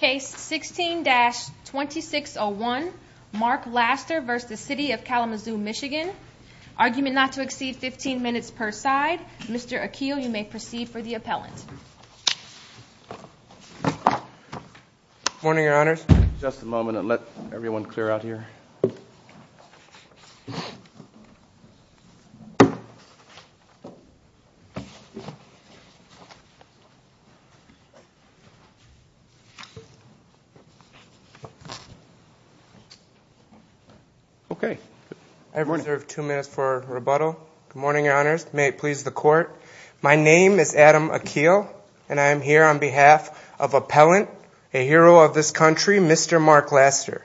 Case 16-2601, Mark Laster v. City of Kalamazoo, Michigan Argument not to exceed 15 minutes per side. Mr. Akil, you may proceed for the appellant. Good morning, Your Honors. Just a moment. I'll let everyone clear out here. I reserve two minutes for rebuttal. Good morning, Your Honors. May it please the Court. My name is Adam Akil, and I am here on behalf of appellant, a hero of this country, Mr. Mark Laster.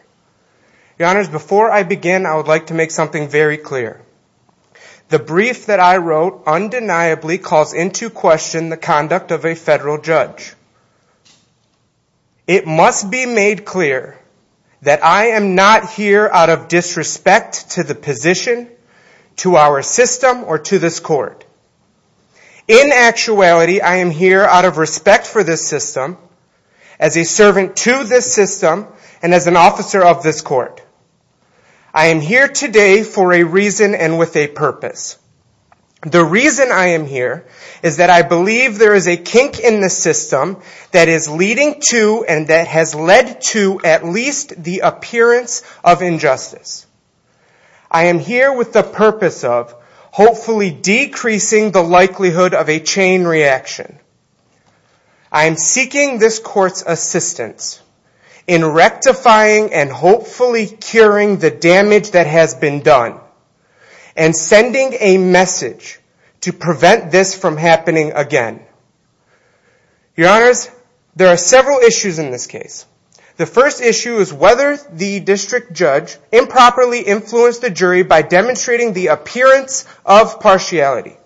Your Honors, before I begin, I would like to make something very clear. The brief that I wrote undeniably calls into question the conduct of a federal judge. It must be made clear that I am not here out of disrespect to the position, to our system, or to this Court. In actuality, I am here out of respect for this system, as a servant to this system, and as an officer of this Court. I am here today for a reason and with a purpose. The reason I am here is that I believe there is a kink in the system that is leading to and that has led to at least the appearance of injustice. I am here with the purpose of hopefully decreasing the likelihood of a chain reaction. I am seeking this Court's assistance in rectifying and hopefully curing the damage that has been done and sending a message to prevent this from happening again. Your Honors, there are several issues in this case. The first issue is whether the district judge improperly influenced the jury by demonstrating the appearance of partiality.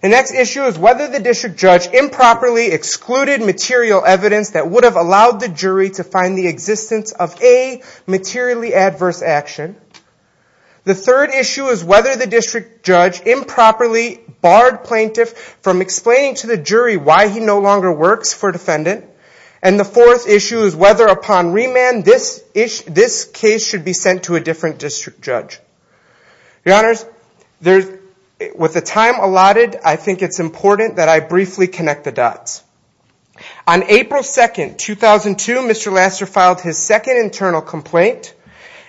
The next issue is whether the district judge improperly excluded material evidence that would have allowed the jury to find the existence of a materially adverse action. The third issue is whether the district judge improperly barred plaintiff from explaining to the jury why he no longer works for defendant. And the fourth issue is whether upon remand this case should be sent to a different district judge. Your Honors, with the time allotted, I think it is important that I briefly connect the dots. On April 2, 2002, Mr. Lassner filed his second internal complaint.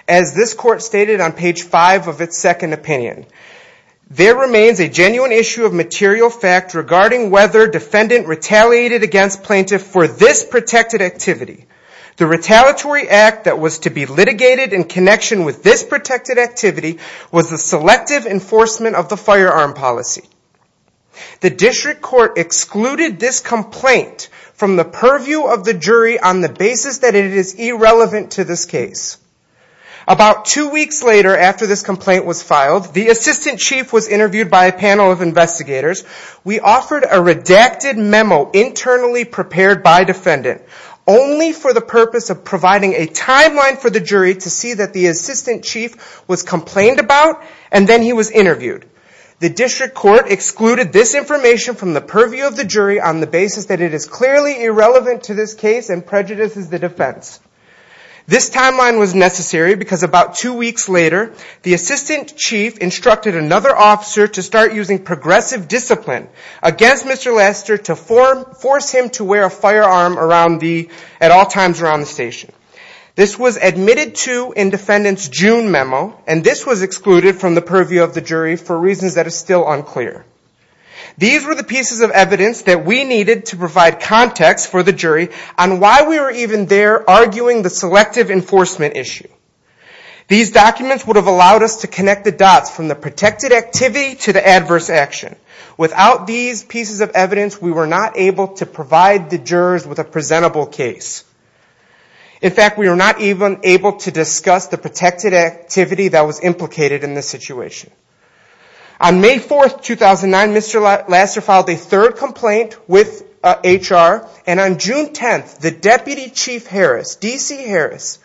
As this Court stated on page 5 of its second opinion, there remains a genuine issue of material fact regarding whether defendant retaliated against plaintiff for this protected activity. The retaliatory act that was to be litigated in connection with this protected activity was the selective enforcement of the firearm policy. The district court excluded this complaint from the purview of the jury on the basis that it is irrelevant to this case. About two weeks later after this complaint was filed, the assistant chief was interviewed by a panel of investigators. We offered a redacted memo internally prepared by defendant only for the purpose of providing a timeline for the jury to see that the assistant chief was complained about and then he was interviewed. The district court excluded this information from the purview of the jury on the basis that it is clearly irrelevant to this case and prejudices the defense. This timeline was necessary because about two weeks later, the assistant chief instructed another officer to start using progressive discipline against Mr. Laster to force him to wear a firearm at all times around the station. This was admitted to in defendant's June memo and this was excluded from the purview of the jury for reasons that are still unclear. These were the pieces of evidence that we needed to provide context for the jury on why we were even there arguing the selective enforcement issue. These documents would have allowed us to connect the dots from the protected activity to the adverse action. Without these pieces of evidence, we were not able to provide the jurors with a presentable case. In fact, we were not even able to discuss the protected activity that was implicated in this situation. On May 4th, 2009, Mr. Laster filed a third complaint with HR and on June 10th, the deputy chief Harris, D.C. Harris,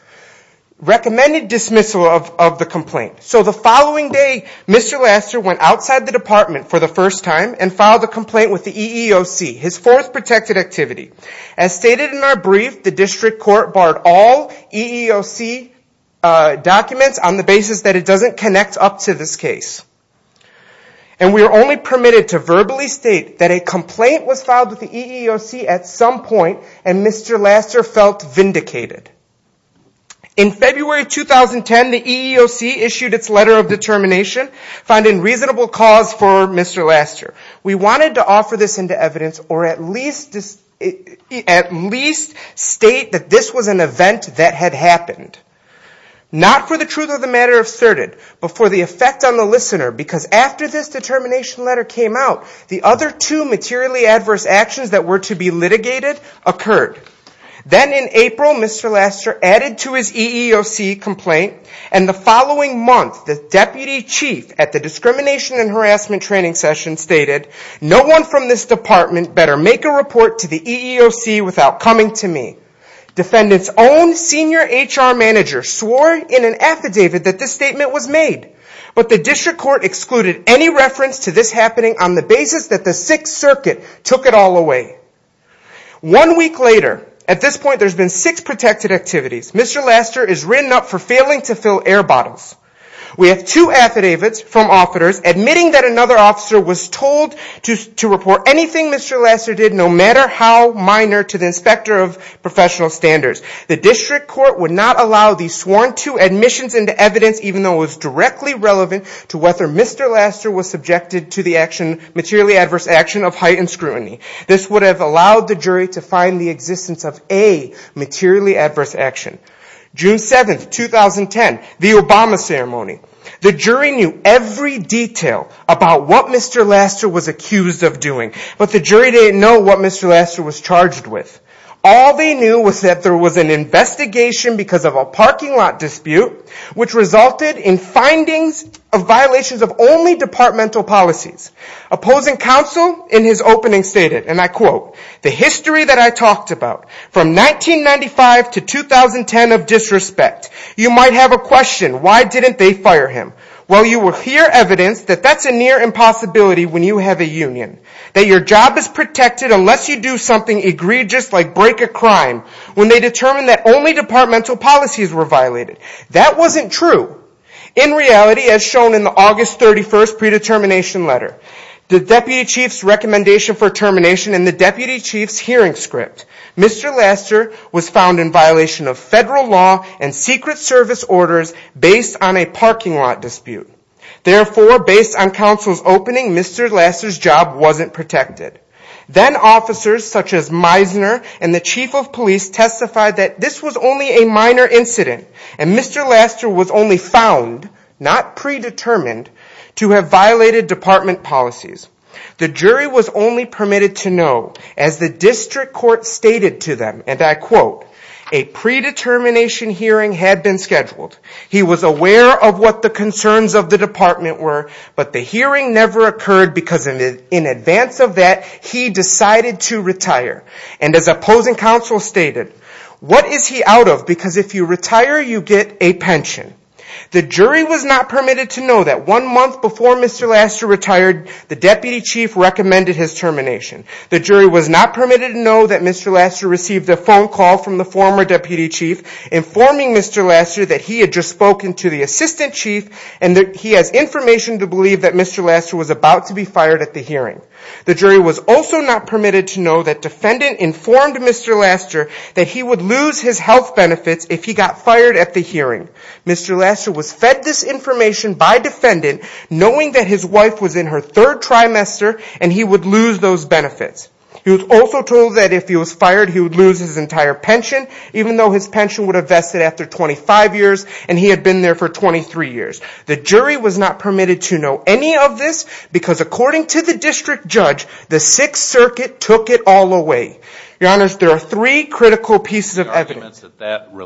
recommended dismissal of the complaint. So the following day, Mr. Laster went outside the department for the first time and filed a complaint with the EEOC, his fourth protected activity. As stated in our brief, the district court barred all EEOC documents on the basis that it doesn't connect up to this case. And we are only permitted to verbally state that a complaint was filed with the EEOC at some point and Mr. Laster felt vindicated. In February 2010, the EEOC issued its letter of determination finding reasonable cause for Mr. Laster. We wanted to offer this into evidence or at least state that this was an event that had happened. Not for the truth of the matter asserted, but for the effect on the listener because after this determination letter came out, the other two materially adverse actions that were to be litigated occurred. Then in April, Mr. Laster added to his EEOC complaint and the following month, the deputy chief at the discrimination and harassment training session stated, no one from this department better make a report to the EEOC without coming to me. Defendant's own senior HR manager swore in an affidavit that this statement was made, but the district court excluded any reference to this happening on the basis that the Sixth Circuit took it all away. One week later, at this point there's been six protected activities. Mr. Laster is written up for failing to fill air bottles. We have two affidavits from officers admitting that another officer was told to report anything Mr. Laster did, no matter how minor, to the inspector of professional standards. The district court would not allow these sworn to admissions into evidence, even though it was directly relevant to whether Mr. Laster was subjected to the materially adverse action of heightened scrutiny. This would have allowed the jury to find the existence of a materially adverse action. June 7th, 2010, the Obama ceremony. The jury knew every detail about what Mr. Laster was accused of doing, but the jury didn't know what Mr. Laster was charged with. All they knew was that there was an investigation because of a parking lot dispute, which resulted in findings of violations of only departmental policies. Opposing counsel in his opening stated, and I quote, the history that I talked about, from 1995 to 2010 of disrespect. You might have a question, why didn't they fire him? Well, you will hear evidence that that's a near impossibility when you have a union. That your job is protected unless you do something egregious like break a crime, when they determined that only departmental policies were violated. That wasn't true. In reality, as shown in the August 31st predetermination letter, the deputy chief's recommendation for termination and the deputy chief's hearing script, Mr. Laster was found in violation of federal law and secret service orders based on a parking lot dispute. Therefore, based on counsel's opening, Mr. Laster's job wasn't protected. Then officers such as Meisner and the chief of police testified that this was only a minor incident, and Mr. Laster was only found, not predetermined, to have violated department policies. The jury was only permitted to know, as the district court stated to them, and I quote, a predetermination hearing had been scheduled. He was aware of what the concerns of the department were, but the hearing never occurred, because in advance of that, he decided to retire. And as opposing counsel stated, what is he out of? Because if you retire, you get a pension. The jury was not permitted to know that one month before Mr. Laster retired, the deputy chief recommended his termination. The jury was not permitted to know that Mr. Laster received a phone call from the former deputy chief, informing Mr. Laster that he had just spoken to the assistant chief, and that he has information to believe that Mr. Laster was about to be fired at the hearing. The jury was also not permitted to know that defendant informed Mr. Laster that he would lose his health benefits if he got fired at the hearing. Mr. Laster was fed this information by defendant, knowing that his wife was in her third trimester, and he would lose those benefits. He was also told that if he was fired, he would lose his entire pension, even though his pension would have vested after 25 years, and he had been there for 23 years. The jury was not permitted to know any of this, because according to the district judge, the Sixth Circuit took it all away. Your Honor, there are three critical pieces of evidence. Can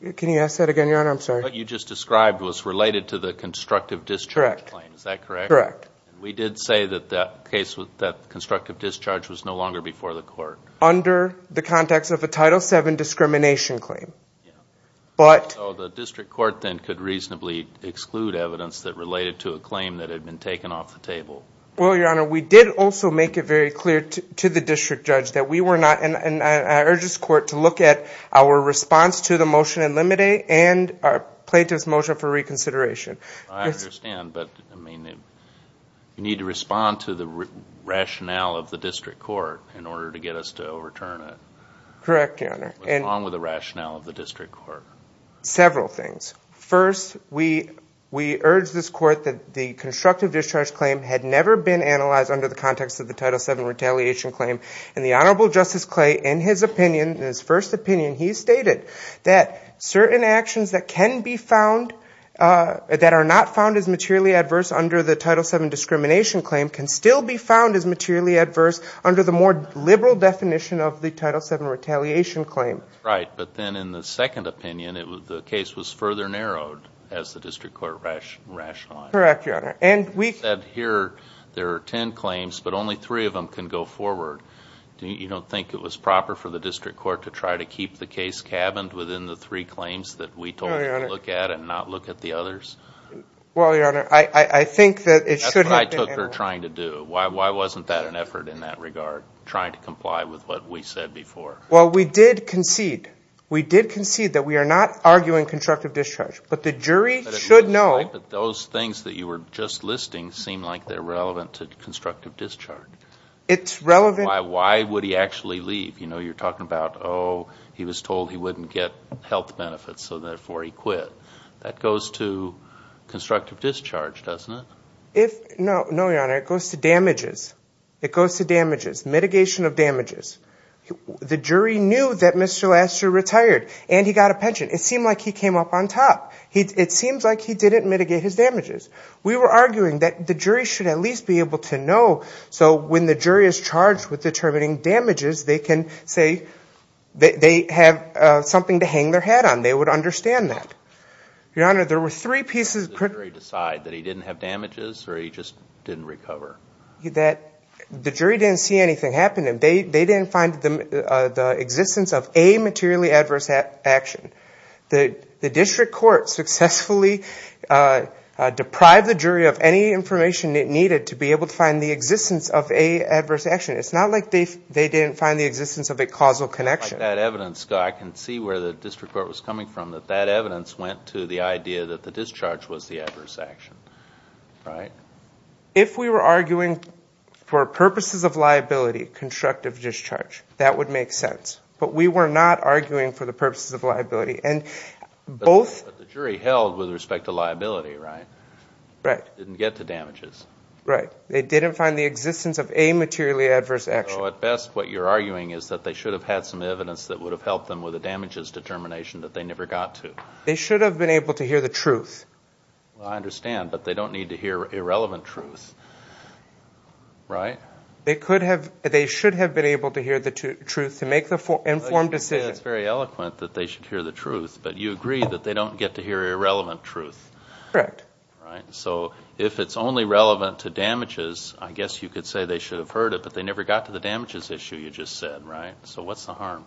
you ask that again, Your Honor? I'm sorry. What you just described was related to the constructive discharge claim, is that correct? Correct. Under the context of a Title VII discrimination claim. So the district court then could reasonably exclude evidence that related to a claim that had been taken off the table. Well, Your Honor, we did also make it very clear to the district judge that we were not, and I urge this court to look at our response to the motion in Limite and our plaintiff's motion for reconsideration. I understand, but you need to respond to the rationale of the district court in order to get us to overturn it. Correct, Your Honor. What's wrong with the rationale of the district court? Several things. First, we urge this court that the constructive discharge claim had never been analyzed under the context of the Title VII retaliation claim, and the Honorable Justice Clay, in his first opinion, he stated that certain actions that can be found, that are not found as materially adverse under the Title VII discrimination claim can still be found as materially adverse under the more liberal definition of the Title VII retaliation claim. Right, but then in the second opinion, the case was further narrowed as the district court rationalized it. Correct, Your Honor. And we said here there are ten claims, but only three of them can go forward. You don't think it was proper for the district court to try to keep the case cabined within the three claims that we told you to look at and not look at the others? Well, Your Honor, I think that it should have been analyzed. That's what I took her trying to do. Why wasn't that an effort in that regard, trying to comply with what we said before? Well, we did concede. We did concede that we are not arguing constructive discharge. But the jury should know... But those things that you were just listing seem like they're relevant to constructive discharge. It's relevant... Why would he actually leave? You know, you're talking about, oh, he was told he wouldn't get health benefits, so therefore he quit. That goes to constructive discharge, doesn't it? No, Your Honor, it goes to damages. It goes to damages. Mitigation of damages. The jury knew that Mr. Lassiter retired and he got a pension. It seemed like he came up on top. It seems like he didn't mitigate his damages. We were arguing that the jury should at least be able to know, so when the jury is charged with determining damages, they can say they have something to hang their head on. They would understand that. Did the jury decide that he didn't have damages or he just didn't recover? The jury didn't see anything happen to him. They didn't find the existence of a materially adverse action. The district court successfully deprived the jury of any information it needed to be able to find the existence of a adverse action. It's not like they didn't find the existence of a causal connection. I can see where the district court was coming from, that that evidence went to the idea that the discharge was the adverse action. If we were arguing for purposes of liability, constructive discharge, that would make sense. But we were not arguing for the purposes of liability. But the jury held with respect to liability, right? They didn't get to damages. They didn't find the existence of a materially adverse action. So at best, what you're arguing is that they should have had some evidence that would have helped them with a damages determination that they never got to. They should have been able to hear the truth. I understand, but they don't need to hear irrelevant truth, right? They should have been able to hear the truth to make the informed decision. It's very eloquent that they should hear the truth, but you agree that they don't get to hear irrelevant truth. Correct. So if it's only relevant to damages, I guess you could say they should have heard it, but they never got to the damages issue you just said, right? So what's the harm?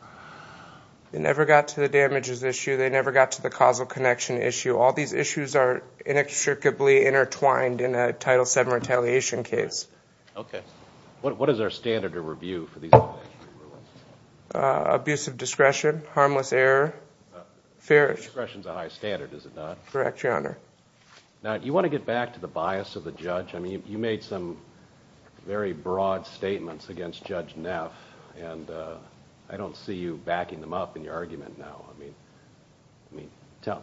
They never got to the damages issue. They never got to the causal connection issue. All these issues are inextricably intertwined in a Title VII retaliation case. Okay. What is our standard of review for these? Abusive discretion, harmless error, fair. Discretion is a high standard, is it not? Correct, Your Honor. Now, you want to get back to the bias of the judge. You made some very broad statements against Judge Neff, and I don't see you backing them up in your argument now.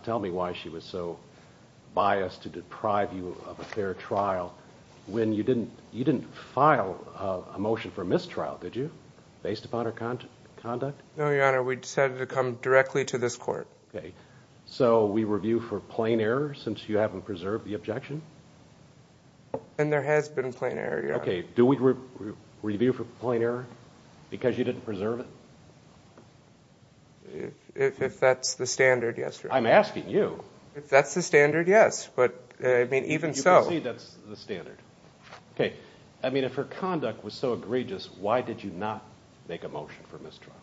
Tell me why she was so biased to deprive you of a fair trial when you didn't file a motion for mistrial, did you, based upon her conduct? No, Your Honor. We decided to come directly to this court. Since you haven't preserved the objection? And there has been plain error, Your Honor. Okay. Do we review for plain error because you didn't preserve it? If that's the standard, yes, Your Honor. I'm asking you. If that's the standard, yes. Okay. I mean, if her conduct was so egregious, why did you not make a motion for mistrial?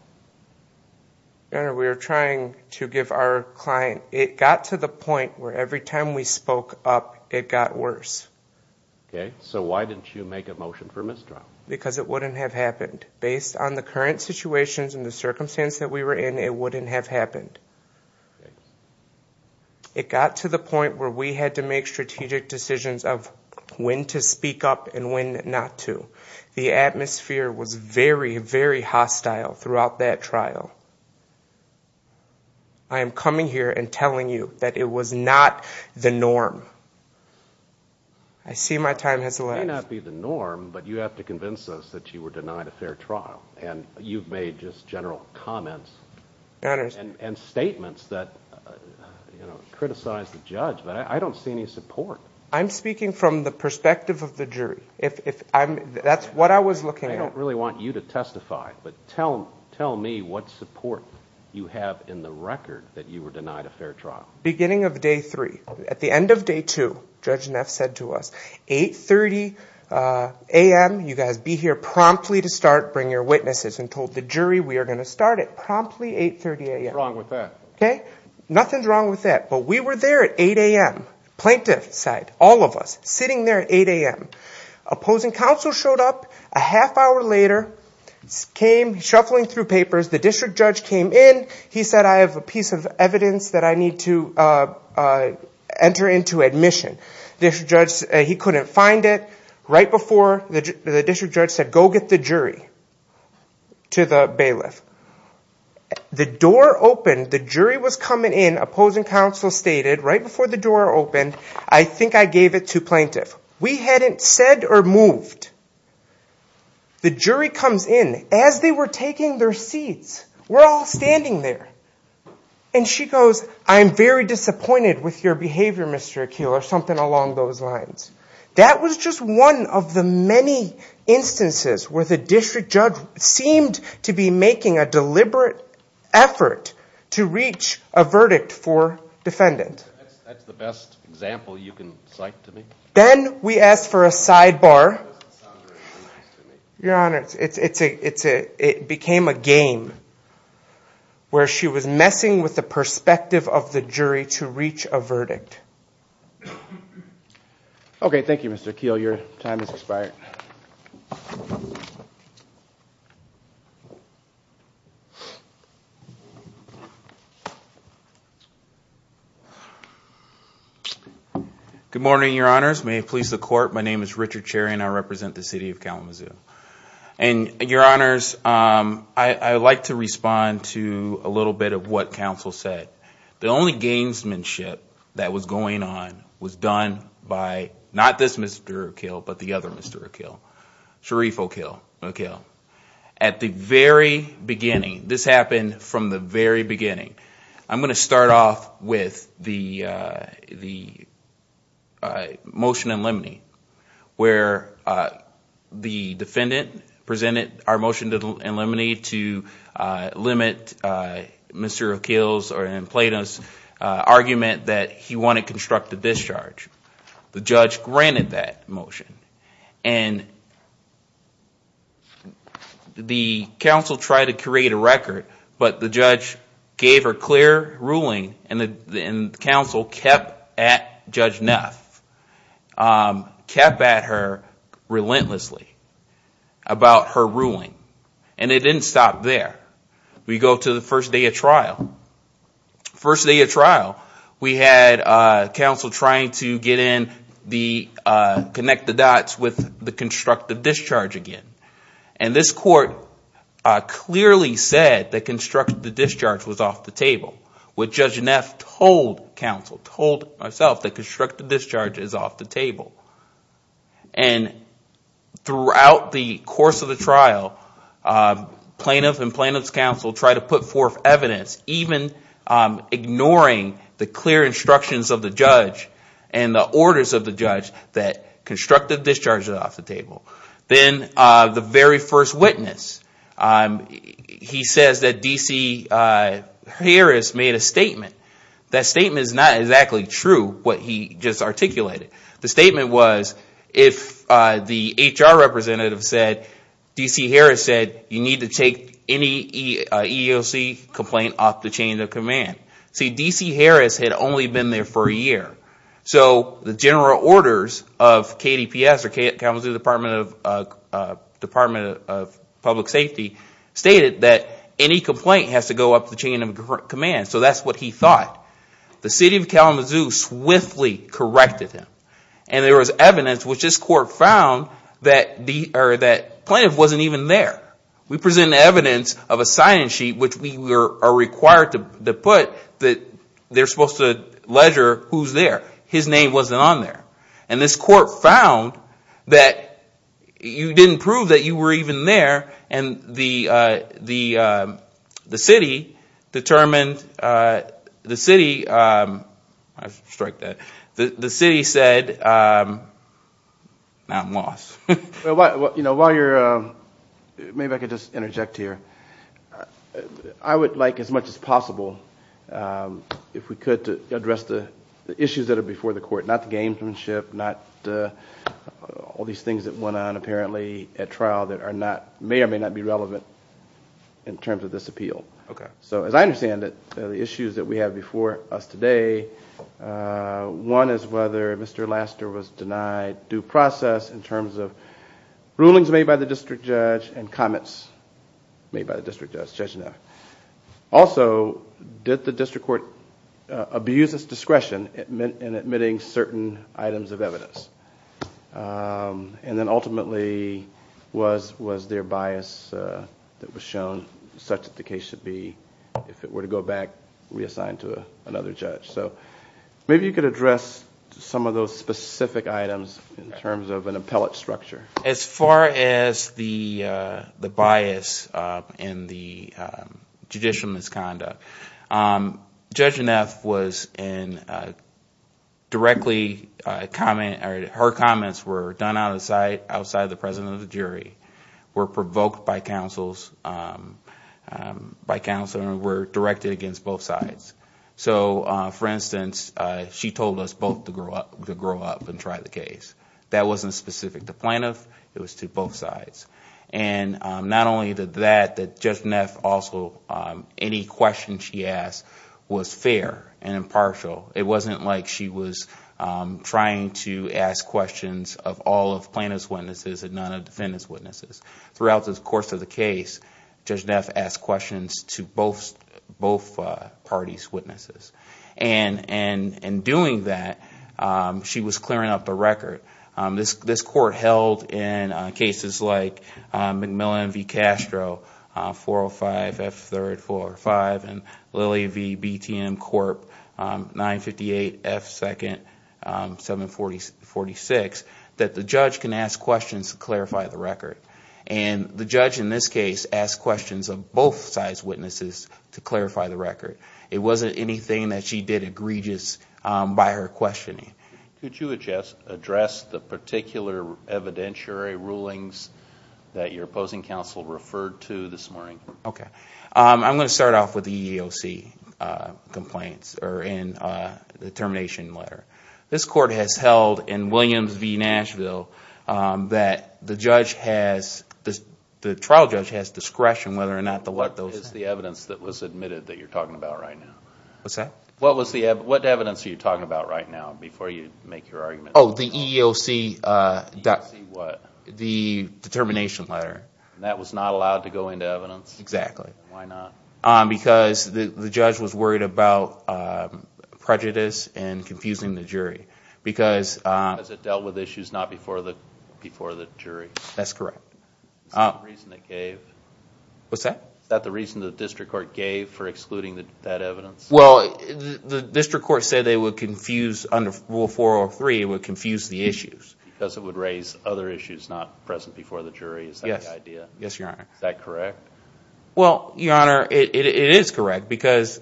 Your Honor, we were trying to give our client... It got to the point where every time we spoke up, it got worse. Okay. So why didn't you make a motion for mistrial? Because it wouldn't have happened. Based on the current situations and the circumstance that we were in, it wouldn't have happened. It got to the point where we had to make strategic decisions of when to speak up and when not to. The atmosphere was very, very hostile throughout that trial. I am coming here and telling you that it was not the norm. I see my time has elapsed. It may not be the norm, but you have to convince us that you were denied a fair trial. And you've made just general comments and statements that criticized the judge. But I don't see any support. I'm speaking from the perspective of the jury. That's what I was looking at. I don't really want you to testify, but tell me what support you have in the record that you were denied a fair trial. Beginning of day three. At the end of day two, Judge Neff said to us, 8.30 a.m., you guys be here promptly to start, bring your witnesses, and told the jury we are going to start at promptly 8.30 a.m. What's wrong with that? Nothing's wrong with that, but we were there at 8 a.m. Plaintiff side, all of us, sitting there at 8 a.m. Opposing counsel showed up a half hour later, came shuffling through papers. The district judge came in. He said, I have a piece of evidence that I need to enter into admission. He couldn't find it. Right before, the district judge said, go get the jury to the bailiff. The door opened. The jury was coming in. Opposing counsel stated, right before the door opened, I think I gave it to plaintiff. We hadn't said or moved. The jury comes in. As they were taking their seats, we're all standing there. And she goes, I'm very disappointed with your behavior, Mr. Akeel, or something along those lines. That was just one of the many instances where the district judge seemed to be making a deliberate effort to reach a verdict for defendant. That's the best example you can cite to me. Then we asked for a sidebar. Your Honor, it became a game where she was messing with the perspective of the jury to reach a verdict. Okay. Thank you, Mr. Akeel. Your time has expired. Good morning, Your Honors. May it please the Court, my name is Richard Cherry and I represent the City of Kalamazoo. Your Honors, I would like to respond to a little bit of what counsel said. The only gamesmanship that was going on was done by not this Mr. Akeel, but the other Mr. Akeel. At the very beginning, this happened from the very beginning, I'm going to start off with the motion in limine where the defendant presented our motion in limine to limit Mr. Akeel's argument that he wanted constructive discharge. The judge granted that motion. The counsel tried to create a record, but the judge gave her clear ruling and the counsel kept at Judge Neff, kept at her relentlessly about her ruling. And it didn't stop there. We go to the first day of trial. First day of trial, we had counsel trying to get in, connect the dots with the constructive discharge again. And this court clearly said that constructive discharge was off the table. What Judge Neff told counsel, told herself, that constructive discharge is off the table. And throughout the course of the trial, plaintiff and plaintiff's counsel tried to put forth evidence, even ignoring the clear instructions of the judge and the orders of the judge that constructive discharge is off the table. Then the very first witness, he says that D.C. Harris made a statement. That statement is not exactly true, what he just articulated. The statement was, if the HR representative said, D.C. Harris said, you need to take any EEOC complaint off the chain of command. See, D.C. Harris had only been there for a year. So the general orders of KDPS, or Kansas Department of Public Safety, stated that any complaint has to go off the chain of command. So that's what he thought. The city of Kalamazoo swiftly corrected him. And there was evidence, which this court found, that plaintiff wasn't even there. We present evidence of a sign-in sheet, which we are required to put, that they're supposed to ledger who's there. His name wasn't on there. And this court found that you didn't prove that you were even there. And the city determined, the city said, now I'm lost. While you're, maybe I can just interject here. I would like as much as possible, if we could, to address the issues that are before the court. Not the gamesmanship, not all these things that went on apparently at trial that are not, may or may not be relevant in terms of this appeal. So as I understand it, the issues that we have before us today, one is whether Mr. Laster was denied due process in terms of rulings made by the district judge and comments made by the district judge. Also, did the district court abuse its discretion in admitting certain items of evidence? And then ultimately, was there bias that was shown such that the case should be, if it were to go back, reassigned to another judge. So maybe you could address some of those specific items in terms of an appellate structure. As far as the bias in the judicial misconduct, Judge Neff was in a directly, her comments were done outside the presence of the jury, were provoked by counsel and were directed against both sides. So for instance, she told us both to grow up and try the case. That wasn't specific to plaintiff, it was to both sides. And not only that, Judge Neff also, any question she asked was fair and impartial. It wasn't like she was trying to ask questions of all of plaintiff's witnesses and none of defendant's witnesses. Throughout the course of the case, Judge Neff asked questions to both parties' witnesses. And in doing that, she was clearing up the record. This court held in cases like McMillan v. Castro, 405 F. 3rd, 405, and Lilly v. BTM Corp, 958 F. 2nd, 746, that the judge can ask questions to clarify the record. And the judge in this case asked questions of both sides' witnesses to clarify the record. It wasn't anything that she did egregious by her questioning. Could you address the particular evidentiary rulings that your opposing counsel referred to this morning? Okay. I'm going to start off with the EEOC complaints, or in the termination letter. This court has held in Williams v. Nashville that the trial judge has discretion whether or not to let those... What is the evidence that was admitted that you're talking about right now? What evidence are you talking about right now before you make your argument? Oh, the EEOC determination letter. That was not allowed to go into evidence? Exactly. Why not? Because the judge was worried about prejudice and confusing the jury. Because it dealt with issues not before the jury? That's correct. Is that the reason the district court gave for excluding that evidence? Well, the district court said they would confuse under Rule 403, it would confuse the issues. Because it would raise other issues not present before the jury? Is that the idea? Yes, Your Honor. Is that correct? Well, Your Honor, it is correct. What's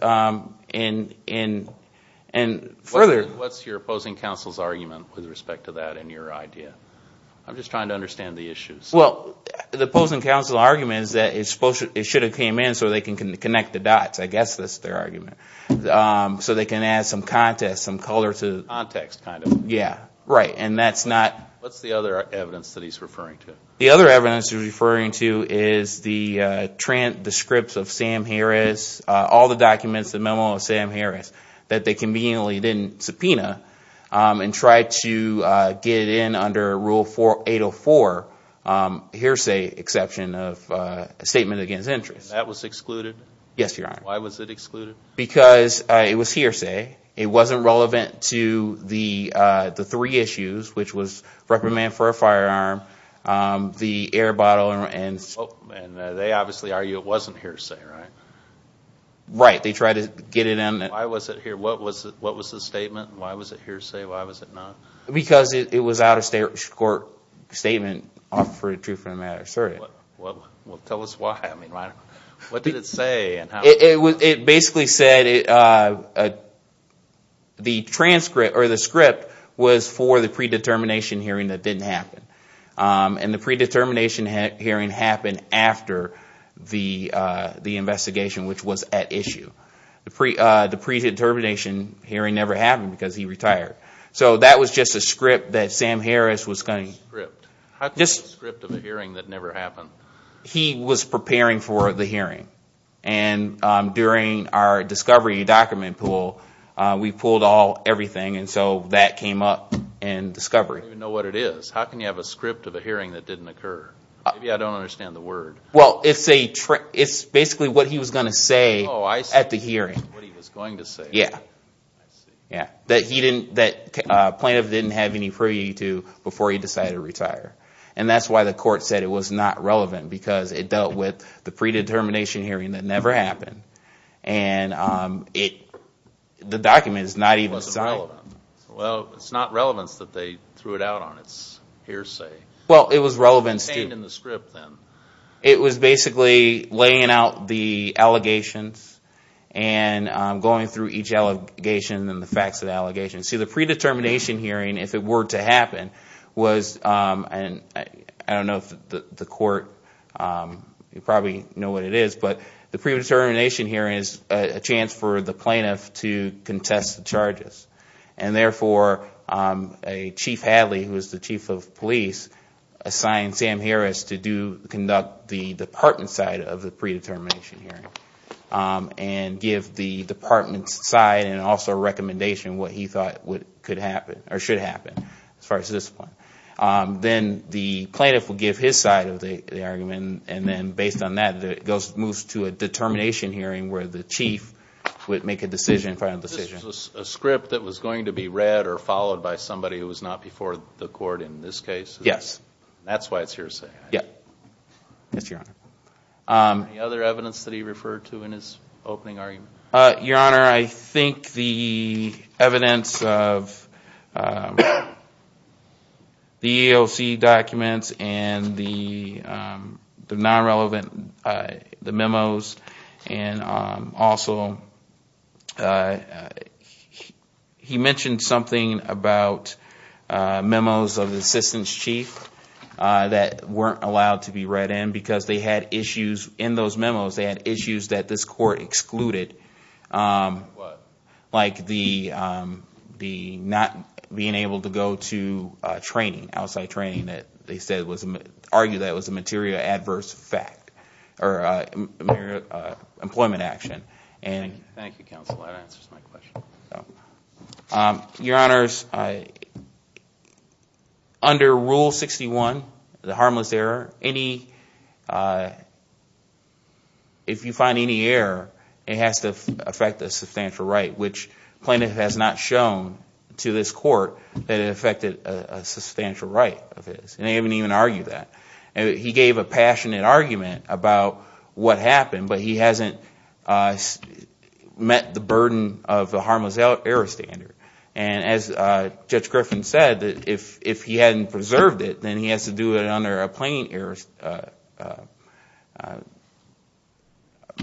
your opposing counsel's argument with respect to that and your idea? I'm just trying to understand the issues. Well, the opposing counsel's argument is that it should have come in so they can connect the dots. I guess that's their argument. So they can add some context. What's the other evidence that he's referring to? The other evidence he's referring to is the transcripts of Sam Harris. All the documents, the memo of Sam Harris that they conveniently didn't subpoena. And tried to get it in under Rule 804. Hearsay exception of statement against interest. That was excluded? Why was it excluded? Because it was hearsay. It wasn't relevant to the three issues. Which was reprimand for a firearm, the air bottle, and... And they obviously argue it wasn't hearsay, right? Right. They tried to get it in. Because it was out of state court statement for the truth of the matter. Well, tell us why. What did it say? It basically said... The script was for the predetermination hearing that didn't happen. And the predetermination hearing happened after the investigation which was at issue. The predetermination hearing never happened because he retired. So that was just a script that Sam Harris was going to... How can you have a script of a hearing that never happened? He was preparing for the hearing. And during our discovery document pool, we pulled everything and so that came up in discovery. I don't even know what it is. How can you have a script of a hearing that didn't occur? Maybe I don't understand the word. Well, it's basically what he was going to say at the hearing. That plaintiff didn't have any privity to before he decided to retire. And that's why the court said it was not relevant. Because it dealt with the predetermination hearing that never happened. The document is not even signed. Well, it's not relevance that they threw it out on. It's hearsay. Well, it was relevance to... It was basically laying out the allegations and going through each allegation and the facts of the allegations. See, the predetermination hearing, if it were to happen, was... I don't know if the court...you probably know what it is. But the predetermination hearing is a chance for the plaintiff to contest the charges. And therefore, Chief Hadley, who is the chief of police, assigned Sam Harris to conduct the department side of the predetermination hearing. And give the department side and also recommendation what he thought could happen. Or should happen, as far as this point. Then the plaintiff will give his side of the argument. And based on that, it moves to a determination hearing where the chief would make a final decision. This was a script that was going to be read or followed by somebody who was not before the court in this case? Yes. Any other evidence that he referred to in his opening argument? Your Honor, I think the evidence of the EEOC documents and the non-relevant memos and also... He mentioned something about memos of the assistance chief that weren't allowed to be read in. Because they had issues in those memos, they had issues that this court excluded. Like the not being able to go to training. Outside training that they argued was a material adverse fact. Or employment action. Your Honors, under Rule 61, the harmless error, if you find any error, it has to affect a substantial right. Which plaintiff has not shown to this court that it affected a substantial right of his. And they didn't even argue that. He gave a passionate argument about what happened, but he hasn't met the burden of the harmless error standard. And as Judge Griffin said, if he hadn't preserved it, then he has to do it under a plain error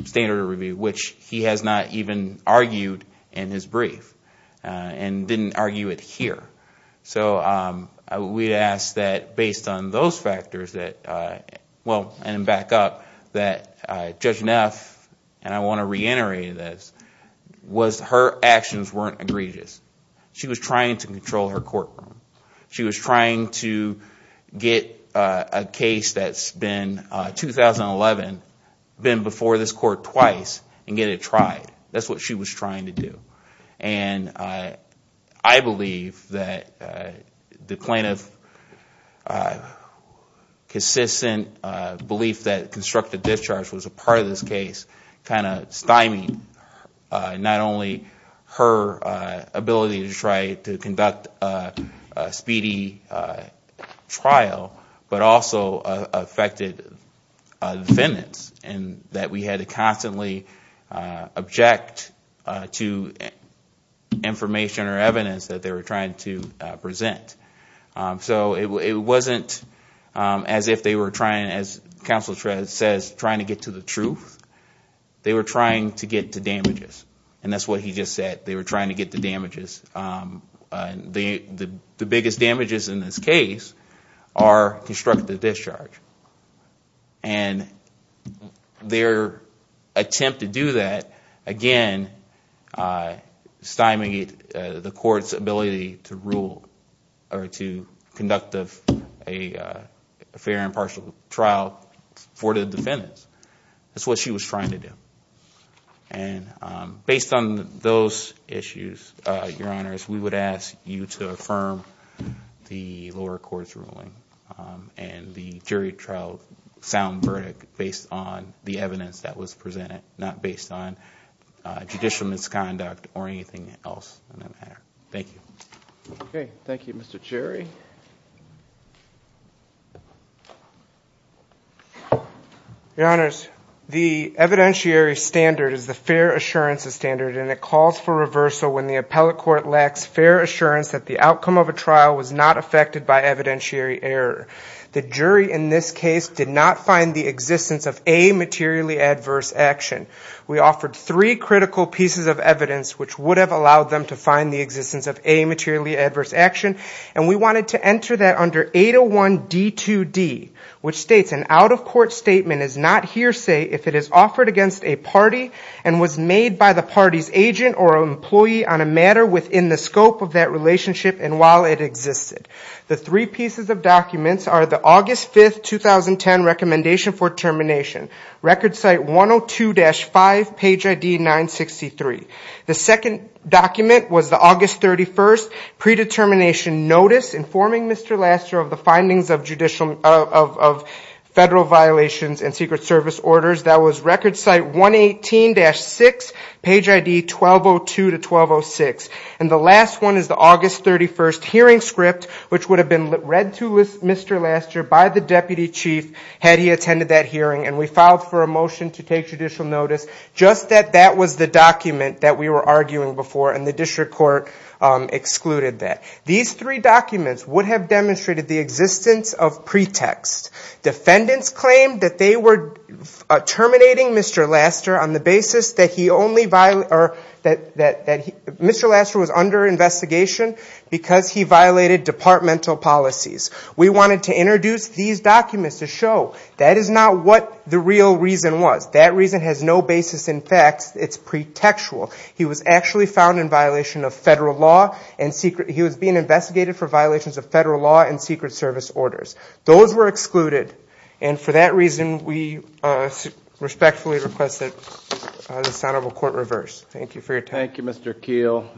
standard. Which he has not even argued in his brief. And didn't argue it here. We ask that based on those factors, and back up, that Judge Neff, and I want to reiterate this, was her actions weren't egregious. She was trying to control her courtroom. She was trying to get a case that's been 2011, been before this court twice, and get it tried. That's what she was trying to do. And I believe that the plaintiff's consistent belief that constructive discharge was a part of this case, kind of stymied not only her ability to try to conduct a speedy trial, but also affected defendants. And that we had to constantly object to information or evidence that they were trying to present. So it wasn't as if they were trying, as counsel says, trying to get to the truth. They were trying to get to damages. And that's what he just said. They were trying to get to damages. The biggest damages in this case are constructive discharge. And their attempt to do that, again, stymied the court's ability to rule, or to conduct a fair and partial trial for the defendants. And based on those issues, Your Honors, we would ask you to affirm the lower court's ruling, and the jury trial sound verdict based on the evidence that was presented, not based on judicial misconduct or anything else. Thank you. Okay, thank you, Mr. Cherry. Your Honors, the evidentiary standard is the fair assurance standard, and it calls for reversal when the appellate court lacks fair assurance that the outcome of a trial was not affected by evidentiary error. The jury in this case did not find the existence of a materially adverse action. We offered three critical pieces of evidence which would have allowed them to find the existence of a materially adverse action, and we wanted to enter that under 801 D2D, which states, an out-of-court statement is not hearsay if it is offered against a party and was made by the party's agent or employee on a matter within the scope of that relationship and while it existed. The three pieces of documents are the August 5th, 2010 recommendation for termination, Record Site 102-3, and the recommendation for termination. The second document was the August 31st predetermination notice, informing Mr. Laster of the findings of federal violations and Secret Service orders. That was Record Site 118-6, page ID 1202-1206. And the last one is the August 31st hearing script, which would have been read to Mr. Laster by the deputy chief had he attended that hearing, and we filed for a motion to take judicial notice, just that that was the document that we were arguing before and the district court excluded that. These three documents would have demonstrated the existence of pretext. Defendants claimed that they were terminating Mr. Laster on the basis that he only, or that Mr. Laster was under investigation because he violated departmental policies. We wanted to introduce these documents to show that is not what the real reason was. That reason has no basis in facts. It's pretextual. He was actually found in violation of federal law, and he was being investigated for violations of federal law and Secret Service orders. Those were excluded, and for that reason we respectfully request that this honorable court reverse. Thank you for your time. Thank you, Mr. Keel.